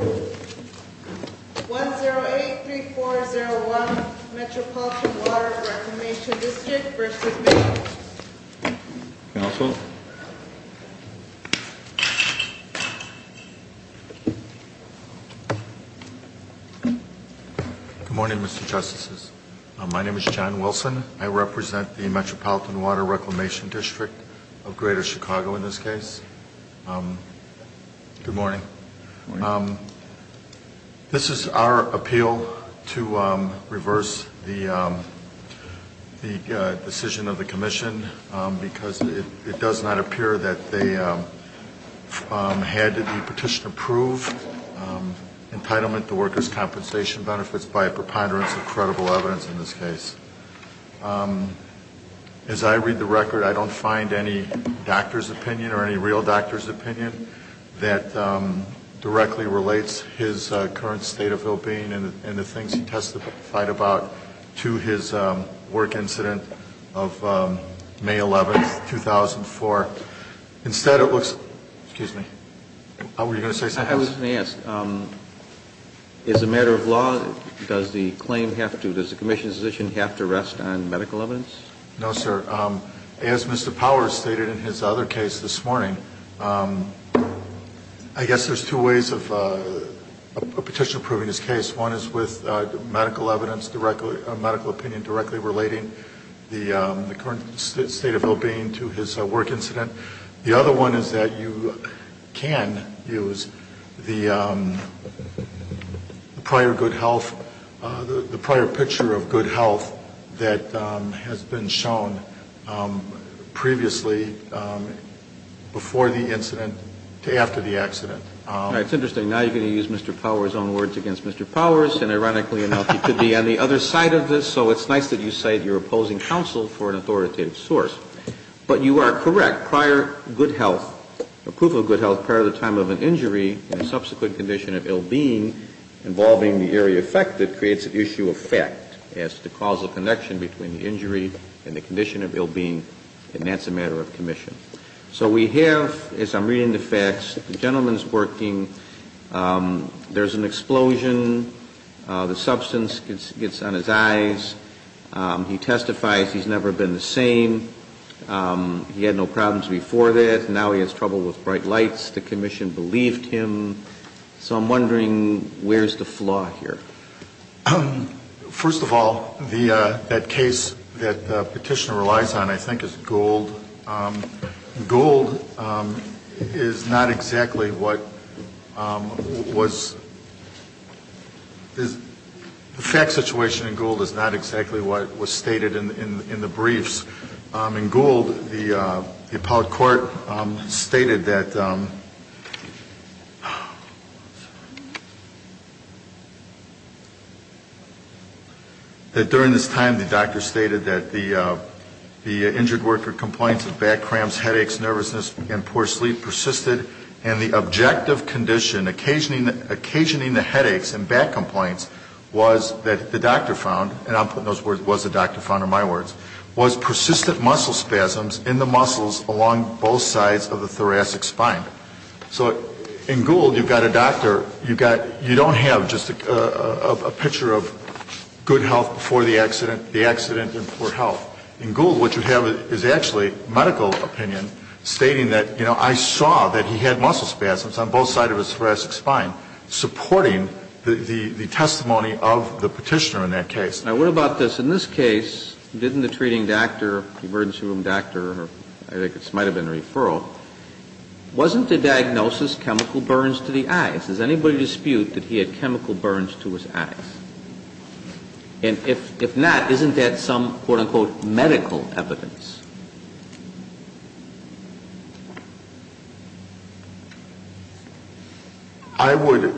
1-0-8-3-4-0-1 Metropolitan Water Reclamation Dist. v. Workers' Compensation Comm'n Council Good morning, Mr. Justices. My name is John Wilson. I represent the Metropolitan Water Reclamation Dist. of Greater Chicago in this case. Good morning. This is our appeal to reverse the decision of the Commission because it does not appear that they had the petition approved, entitlement to workers' compensation benefits by a preponderance of credible evidence in this case. As I read the record, I don't find any doctor's opinion or any real doctor's opinion that directly relates his current state of well-being and the things he testified about to his work incident of May 11th, 2004. Instead, it looks, excuse me, were you going to say something else? I wasn't asked. As a matter of law, does the claim have to, does the Commission's position have to rest on medical evidence? No, sir. As Mr. Powers stated in his other case this morning, I guess there's two ways of a petition approving this case. One is with medical evidence directly, medical opinion directly relating the current state of well-being to his work incident. The other one is that you can use the prior good health, the prior picture of good health that has been shown previously before the incident to after the accident. All right. It's interesting. Now you're going to use Mr. Powers' own words against Mr. Powers. And ironically enough, he could be on the other side of this. So it's nice that you cite your opposing counsel for an authoritative source. But you are correct. Prior good health, approval of good health prior to the time of an injury and subsequent condition of ill-being involving the area affected creates an issue of fact as to the causal connection between the injury and the condition of ill-being. And that's a matter of commission. So we have, as I'm reading the facts, the gentleman's working. There's an explosion. The substance gets on his eyes. He testifies he's never been the same. He had no problems before that. Now he has trouble with bright lights. The commission believed him. So I'm wondering where's the flaw here? First of all, that case that Petitioner relies on, I think, is Gould. Gould is not exactly what was the fact situation in Gould is not exactly what was stated in the briefs. In Gould, the appellate court stated that during this time, the doctor stated that the injured worker complains of back cramps, headaches, nervousness, and poor sleep persisted. And the objective condition occasioning the headaches and back complaints was that the doctor found, and I'm putting those words, was the doctor found are my words, was persistent muscle spasms in the muscles along both sides of the thoracic spine. So in Gould, you've got a doctor. You don't have just a picture of good health before the accident, the accident, and poor health. In Gould, what you have is actually medical opinion stating that, you know, I saw that he had muscle spasms on both sides of his thoracic spine, supporting the testimony of the Petitioner in that case. Now, what about this? In this case, didn't the treating doctor, the emergency room doctor, I think this might have been a referral, wasn't the diagnosis chemical burns to the eyes? Does anybody dispute that he had chemical burns to his eyes? And if not, isn't that some, quote, unquote, medical evidence? I would,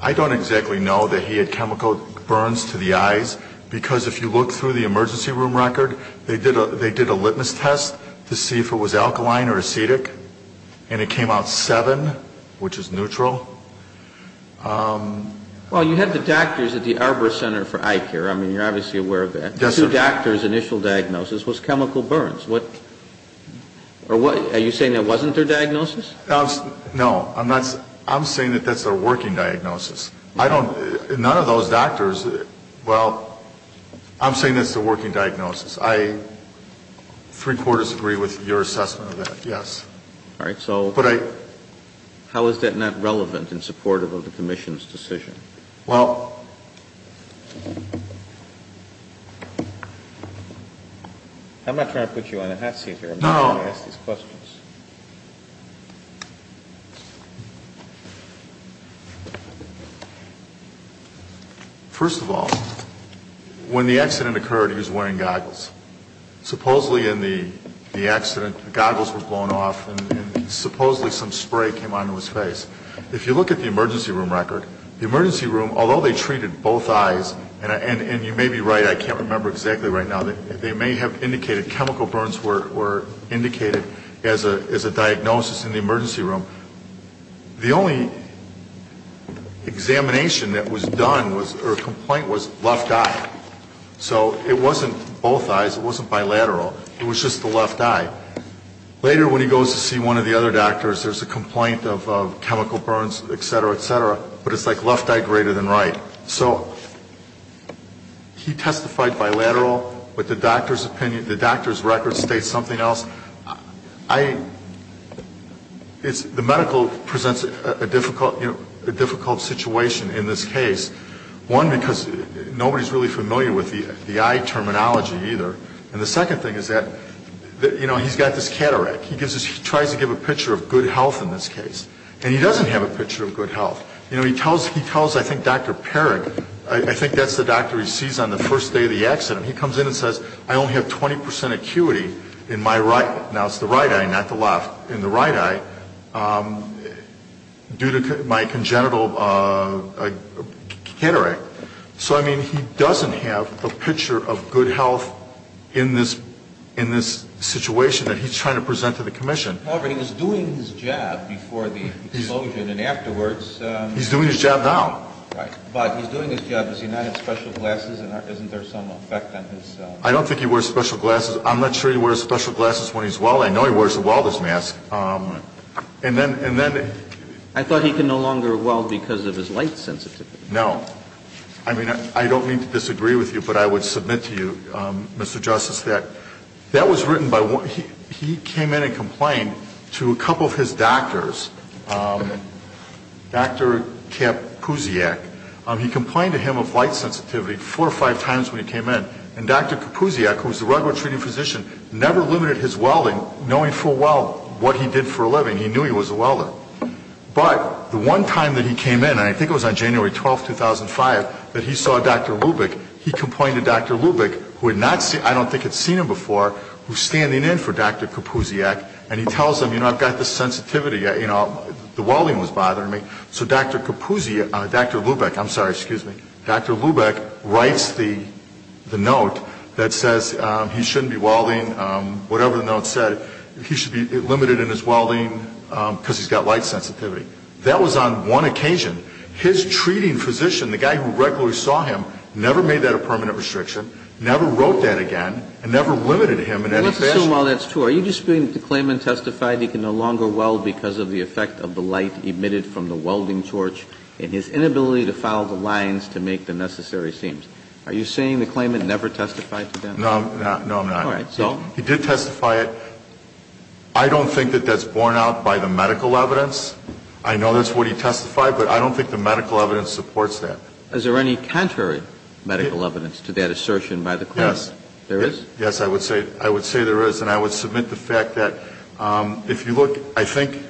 I don't exactly know that he had chemical burns to the eyes, because if you look through the emergency room record, they did a litmus test to see if it was alkaline or acetic, and it came out 7, which is neutral. Well, you had the doctors at the Arbor Center for Eye Care. I mean, you're obviously aware of that. Yes, sir. The two doctors' initial diagnosis was chemical burns. Are you saying that wasn't their diagnosis? No. I'm saying that that's their working diagnosis. I don't, none of those doctors, well, I'm saying that's their working diagnosis. I three-quarters agree with your assessment of that, yes. All right. So how is that not relevant and supportive of the commission's decision? Well... I'm not trying to put you on a hot seat here. No. I'm trying to ask these questions. First of all, when the accident occurred, he was wearing goggles. Supposedly in the accident, the goggles were blown off, and supposedly some spray came onto his face. If you look at the emergency room record, the emergency room, although they treated both eyes, and you may be right, I can't remember exactly right now, they may have indicated chemical burns were indicated as a diagnosis in the emergency room. The only examination that was done or complaint was left eye. So it wasn't both eyes. It wasn't bilateral. It was just the left eye. Later when he goes to see one of the other doctors, there's a complaint of chemical burns, et cetera, et cetera, but it's like left eye greater than right. So he testified bilateral, but the doctor's opinion, the doctor's record states something else. I, it's, the medical presents a difficult, you know, a difficult situation in this case. One, because nobody's really familiar with the eye terminology either, and the second thing is that, you know, he's got this cataract. He gives us, he tries to give a picture of good health in this case, and he doesn't have a picture of good health. You know, he tells, he tells, I think, Dr. Parag, I think that's the doctor he sees on the first day of the accident. He comes in and says, I only have 20% acuity in my right, now it's the right eye, not the left, in the right eye due to my congenital cataract. So, I mean, he doesn't have a picture of good health in this, in this situation that he's trying to present to the commission. However, he was doing his job before the explosion and afterwards. He's doing his job now. Right. But he's doing his job. Does he not have special glasses, and isn't there some effect on his? I don't think he wears special glasses. I'm not sure he wears special glasses when he's well. I know he wears a welder's mask. And then, and then. I thought he could no longer weld because of his light sensitivity. No. I mean, I don't mean to disagree with you, but I would submit to you, Mr. Justice, that that was written by one, he came in and complained to a couple of his doctors. Dr. Kapusiak. He complained to him of light sensitivity four or five times when he came in, and Dr. Kapusiak, who was the regular treating physician, never limited his welding, knowing full well what he did for a living. He knew he was a welder. But the one time that he came in, and I think it was on January 12, 2005, that he saw Dr. Lubick, he complained to Dr. Lubick, who had not seen, I don't think had seen him before, who was standing in for Dr. Kapusiak, and he tells him, you know, I've got this sensitivity, you know, the welding was bothering me. So Dr. Kapusiak, Dr. Lubick, I'm sorry, excuse me, Dr. Lubick writes the note that says he shouldn't be welding, whatever the note said, he should be limited in his welding because he's got light sensitivity. That was on one occasion. His treating physician, the guy who regularly saw him, never made that a permanent restriction, never wrote that again, and never limited him in any fashion. I assume all that's true. Are you disputing that the claimant testified he can no longer weld because of the effect of the light emitted from the welding torch and his inability to follow the lines to make the necessary seams? Are you saying the claimant never testified to that? No, I'm not. All right. He did testify. I don't think that that's borne out by the medical evidence. I know that's what he testified, but I don't think the medical evidence supports that. Is there any contrary medical evidence to that assertion by the claimant? Yes. There is? Yes, I would say there is. And I would submit the fact that if you look, I think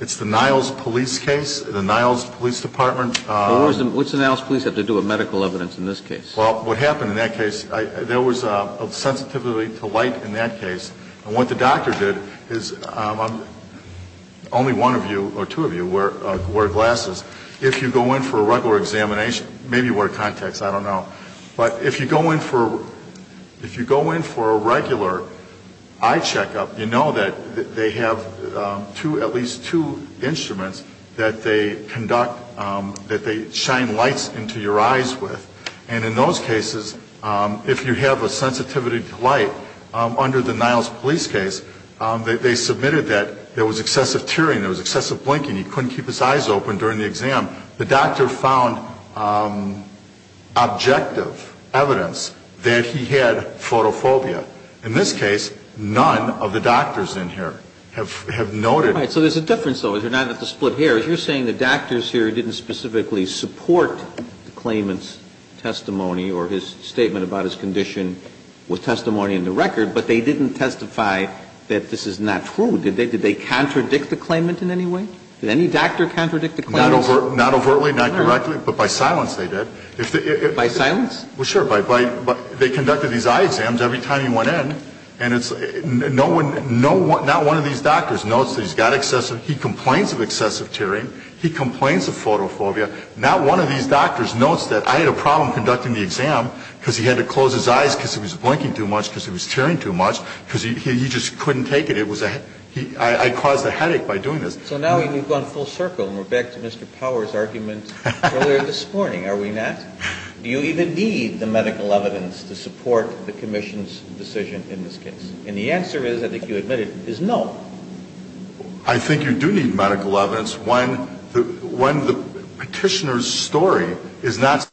it's the Niles Police case, the Niles Police Department. What does the Niles Police have to do with medical evidence in this case? Well, what happened in that case, there was a sensitivity to light in that case. And what the doctor did is only one of you or two of you wear glasses. If you go in for a regular examination, maybe you wear contacts, I don't know. But if you go in for a regular eye checkup, you know that they have at least two instruments that they conduct, that they shine lights into your eyes with. And in those cases, if you have a sensitivity to light, under the Niles Police case, they submitted that there was excessive tearing, there was excessive blinking, he couldn't keep his eyes open during the exam. The doctor found objective evidence that he had photophobia. In this case, none of the doctors in here have noted it. All right. So there's a difference, though, is you're not at the split hairs. You're saying the doctors here didn't specifically support the claimant's testimony or his statement about his condition with testimony in the record, but they didn't testify that this is not true. Did they contradict the claimant in any way? Did any doctor contradict the claimant? Not overtly, not directly, but by silence they did. By silence? Well, sure. They conducted these eye exams every time he went in. And not one of these doctors notes that he's got excessive, he complains of excessive tearing, he complains of photophobia. Not one of these doctors notes that I had a problem conducting the exam because he had to close his eyes because he was blinking too much, because he was tearing too much, because he just couldn't take it. I caused a headache by doing this. So now we've gone full circle and we're back to Mr. Power's argument earlier this morning, are we not? Do you even need the medical evidence to support the commission's decision in this case? And the answer is, I think you admitted, is no. I think you do need medical evidence when the petitioner's story is not solid.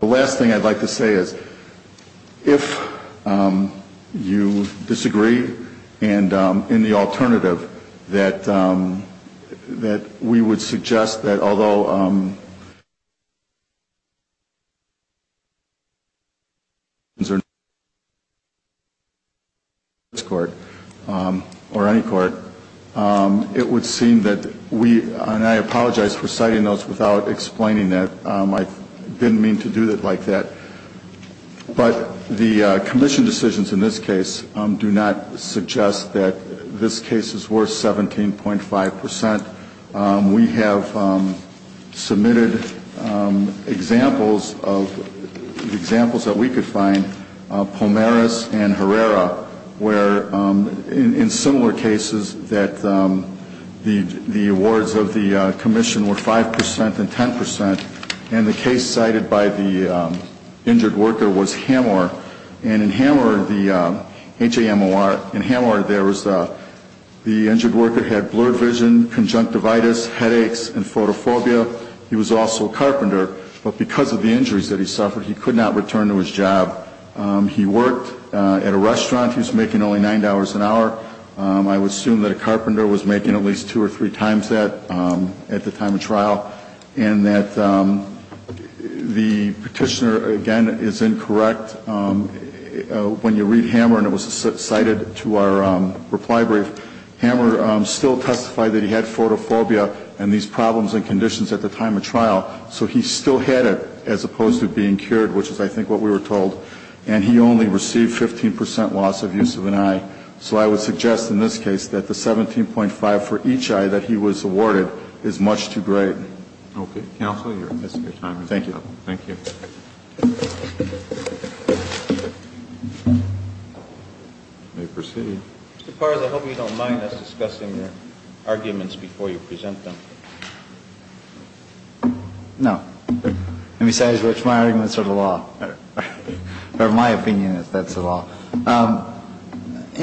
The last thing I'd like to say is, if you disagree, and in the alternative, that we would suggest that although this court or any court, it would seem that we, and I apologize for citing those without explaining that, I didn't mean to do it like that. But the commission decisions in this case do not suggest that this case is worth 17.5 percent. We have submitted examples of, examples that we could find, Pomeres and Herrera, where in similar cases that the awards of the commission were 5 percent and 10 percent, and the case cited by the injured worker was Hamor. And in Hamor, the H-A-M-O-R, in Hamor there was the injured worker had blurred vision, conjunctivitis, headaches, and photophobia. He was also a carpenter, but because of the injuries that he suffered, he could not return to his job. He worked at a restaurant. He was making only $9 an hour. I would assume that a carpenter was making at least two or three times that at the time of trial, and that the petitioner, again, is incorrect. When you read Hamor, and it was cited to our reply brief, Hamor still testified that he had photophobia and these problems and conditions at the time of trial. So he still had it as opposed to being cured, which is, I think, what we were told. And he only received 15 percent loss of use of an eye. So I would suggest in this case that the 17.5 for each eye that he was awarded is much too great. Roberts. Okay. Counsel, your time is up. Thank you. Thank you. You may proceed. Mr. Carles, I hope you don't mind us discussing your arguments before you present them. No. And besides which, my arguments are the law. In my opinion, that's the law. You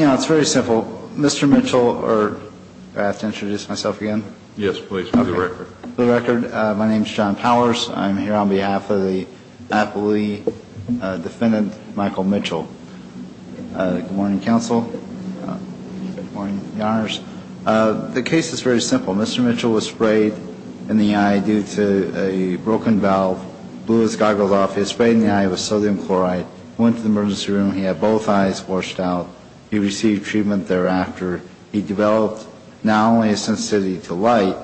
know, it's very simple. Mr. Mitchell or do I have to introduce myself again? Yes, please. For the record. For the record, my name is John Powers. I'm here on behalf of the appellee defendant, Michael Mitchell. Good morning, counsel. Good morning, Your Honors. The case is very simple. Mr. Mitchell was sprayed in the eye due to a broken valve, blew his goggles off. He was sprayed in the eye with sodium chloride, went to the emergency room. He had both eyes washed out. He received treatment thereafter. He developed not only a sensitivity to light,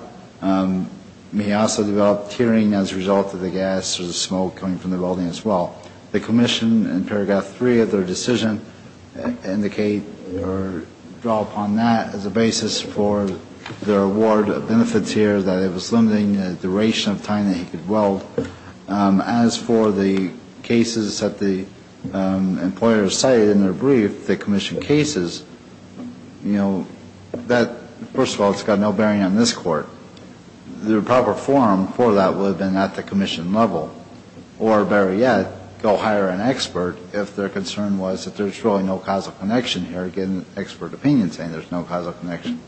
he also developed tearing as a result of the gas or the smoke coming from the welding as well. The commission in Paragraph 3 of their decision indicate or draw upon that as a basis for their award of benefits here, that it was limiting the duration of time that he could weld. As for the cases that the employers cited in their brief, the commission cases, you know, that, first of all, it's got no bearing on this court. The proper forum for that would have been at the commission level or, better yet, go hire an expert if their concern was that there's really no causal connection here, get an expert opinion saying there's no causal connection.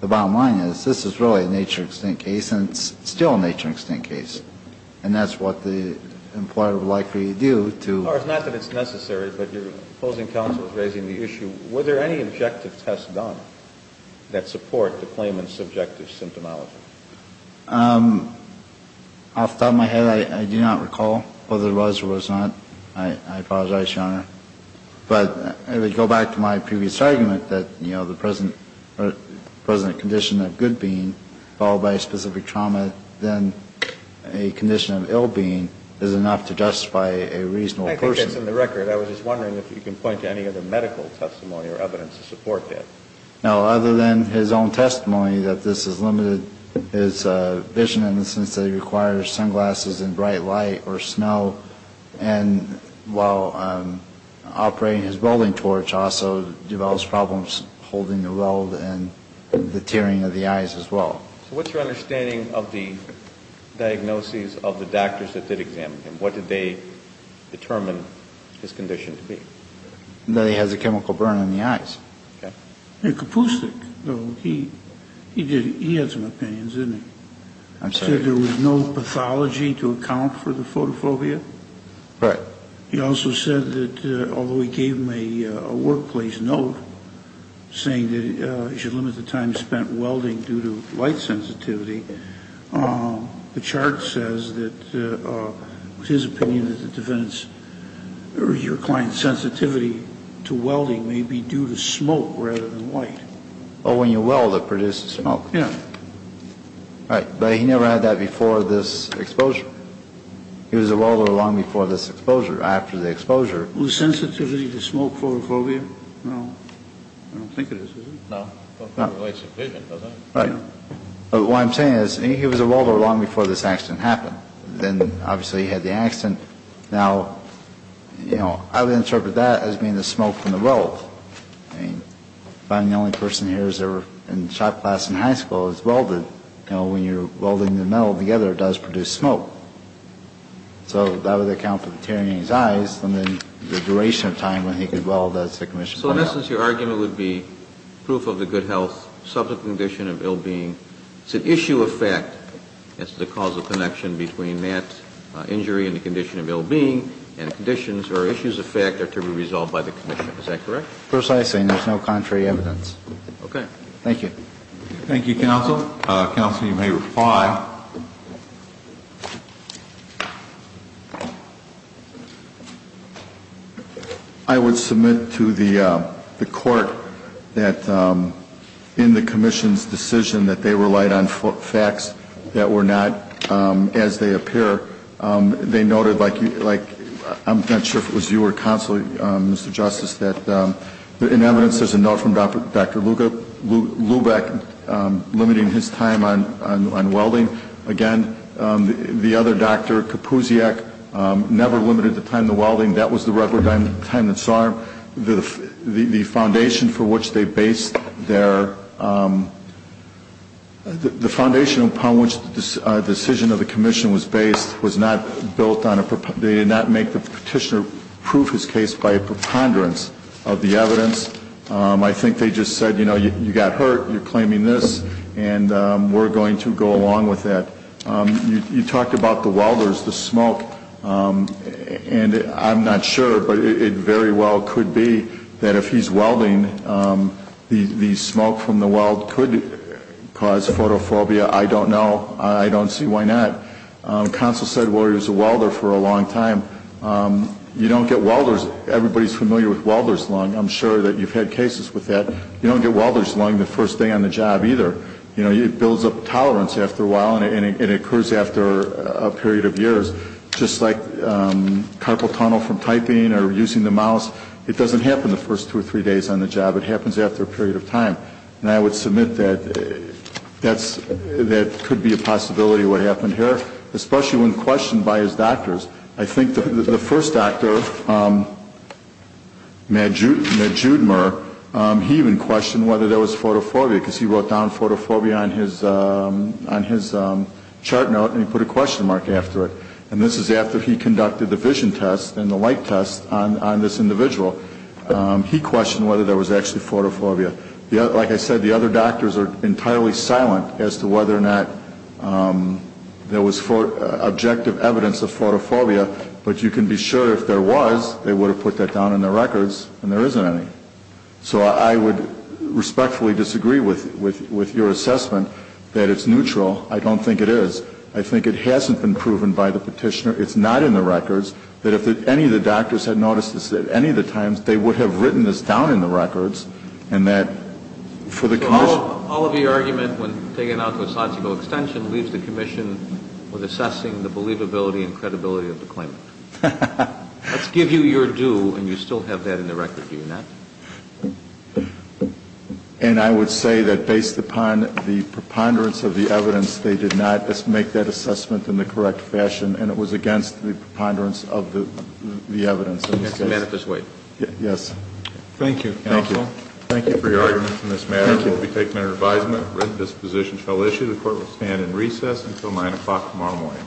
The bottom line is this is really a nature-extinct case, and it's still a nature-extinct case, and that's what the employer would like for you to do. As far as not that it's necessary, but your opposing counsel is raising the issue, were there any objective tests done that support the claimant's subjective symptomology? Off the top of my head, I do not recall whether there was or was not. I apologize, Your Honor. But I would go back to my previous argument that, you know, the present condition of good being followed by a specific trauma, then a condition of ill being is enough to justify a reasonable person. I think that's in the record. I was just wondering if you can point to any other medical testimony or evidence to support that. No. Other than his own testimony that this has limited his vision in the sense that he requires sunglasses and bright light or smell, and while operating his welding torch, also develops problems holding the weld and the tearing of the eyes as well. So what's your understanding of the diagnoses of the doctors that did examine him? What did they determine his condition to be? That he has a chemical burn in the eyes. Okay. Kapustic, though, he had some opinions, didn't he? I'm sorry. He said there was no pathology to account for the photophobia. Right. He also said that although he gave him a workplace note saying that he should limit the time spent welding due to light sensitivity, the chart says that his opinion is that the defendant's or your client's sensitivity to welding may be due to smoke rather than light. Oh, when you weld, it produces smoke. Yeah. Right. But he never had that before this exposure. He was a welder long before this exposure, after the exposure. Was sensitivity to smoke photophobia? No. I don't think it is, is it? No. Well, it's a vision, doesn't it? Right. But what I'm saying is he was a welder long before this accident happened. Then, obviously, he had the accident. Now, you know, I would interpret that as being the smoke from the weld. I mean, if I'm the only person here who's ever in shop class in high school who's welded, you know, when you're welding the metal together, it does produce smoke. So that would account for the tearing in his eyes and then the duration of time when he could weld, as the commission pointed out. So, in essence, your argument would be proof of the good health, subject to the condition of ill-being. It's an issue of fact. It's the causal connection between that injury and the condition of ill-being, and conditions or issues of fact are to be resolved by the commission. Is that correct? Precisely. And there's no contrary evidence. Okay. Thank you. Thank you, counsel. Counsel, you may reply. I would submit to the court that in the commission's decision that they relied on facts that were not as they appear, they noted, like, I'm not sure if it was you or counsel, Mr. Justice, that in evidence there's a note from Dr. Lubeck limiting his time on welding. Again, the other, Dr. Kapusiak, never limited the time in the welding. That was the record time that saw the foundation for which they based their, the foundation upon which the decision of the commission was based was not built on a, they did not make the petitioner prove his case by a preponderance of the evidence. I think they just said, you know, you got hurt, you're claiming this, and we're going to go along with that. You talked about the welders, the smoke, and I'm not sure, but it very well could be that if he's welding, the smoke from the weld could cause photophobia. I don't know. I don't see why not. Counsel said, well, he was a welder for a long time. You don't get welders, everybody's familiar with welder's lung. I'm sure that you've had cases with that. You don't get welder's lung the first day on the job either. You know, it builds up tolerance after a while, and it occurs after a period of years. Just like carpal tunnel from typing or using the mouse, it doesn't happen the first two or three days on the job. It happens after a period of time, and I would submit that that could be a possibility of what happened here, especially when questioned by his doctors. I think the first doctor, Matt Judmer, he even questioned whether there was photophobia because he wrote down photophobia on his chart note and he put a question mark after it, and this is after he conducted the vision test and the light test on this individual. He questioned whether there was actually photophobia. Like I said, the other doctors are entirely silent as to whether or not there was objective evidence of photophobia, but you can be sure if there was, they would have put that down in their records and there isn't any. So I would respectfully disagree with your assessment that it's neutral. I don't think it is. I think it hasn't been proven by the petitioner. It's not in the records that if any of the doctors had noticed this at any of the times, they would have written this down in the records and that for the commission. So all of the argument when taken out to a sociable extension leaves the commission with assessing the believability and credibility of the claimant. Let's give you your due and you still have that in the record, do you not? And I would say that based upon the preponderance of the evidence, they did not make that assessment in the correct fashion, and it was against the preponderance of the evidence in this case. Yes. Thank you, counsel. Thank you for your argument on this matter. We'll be taking our advisement. This position shall issue. The court will stand in recess until 9 o'clock tomorrow morning.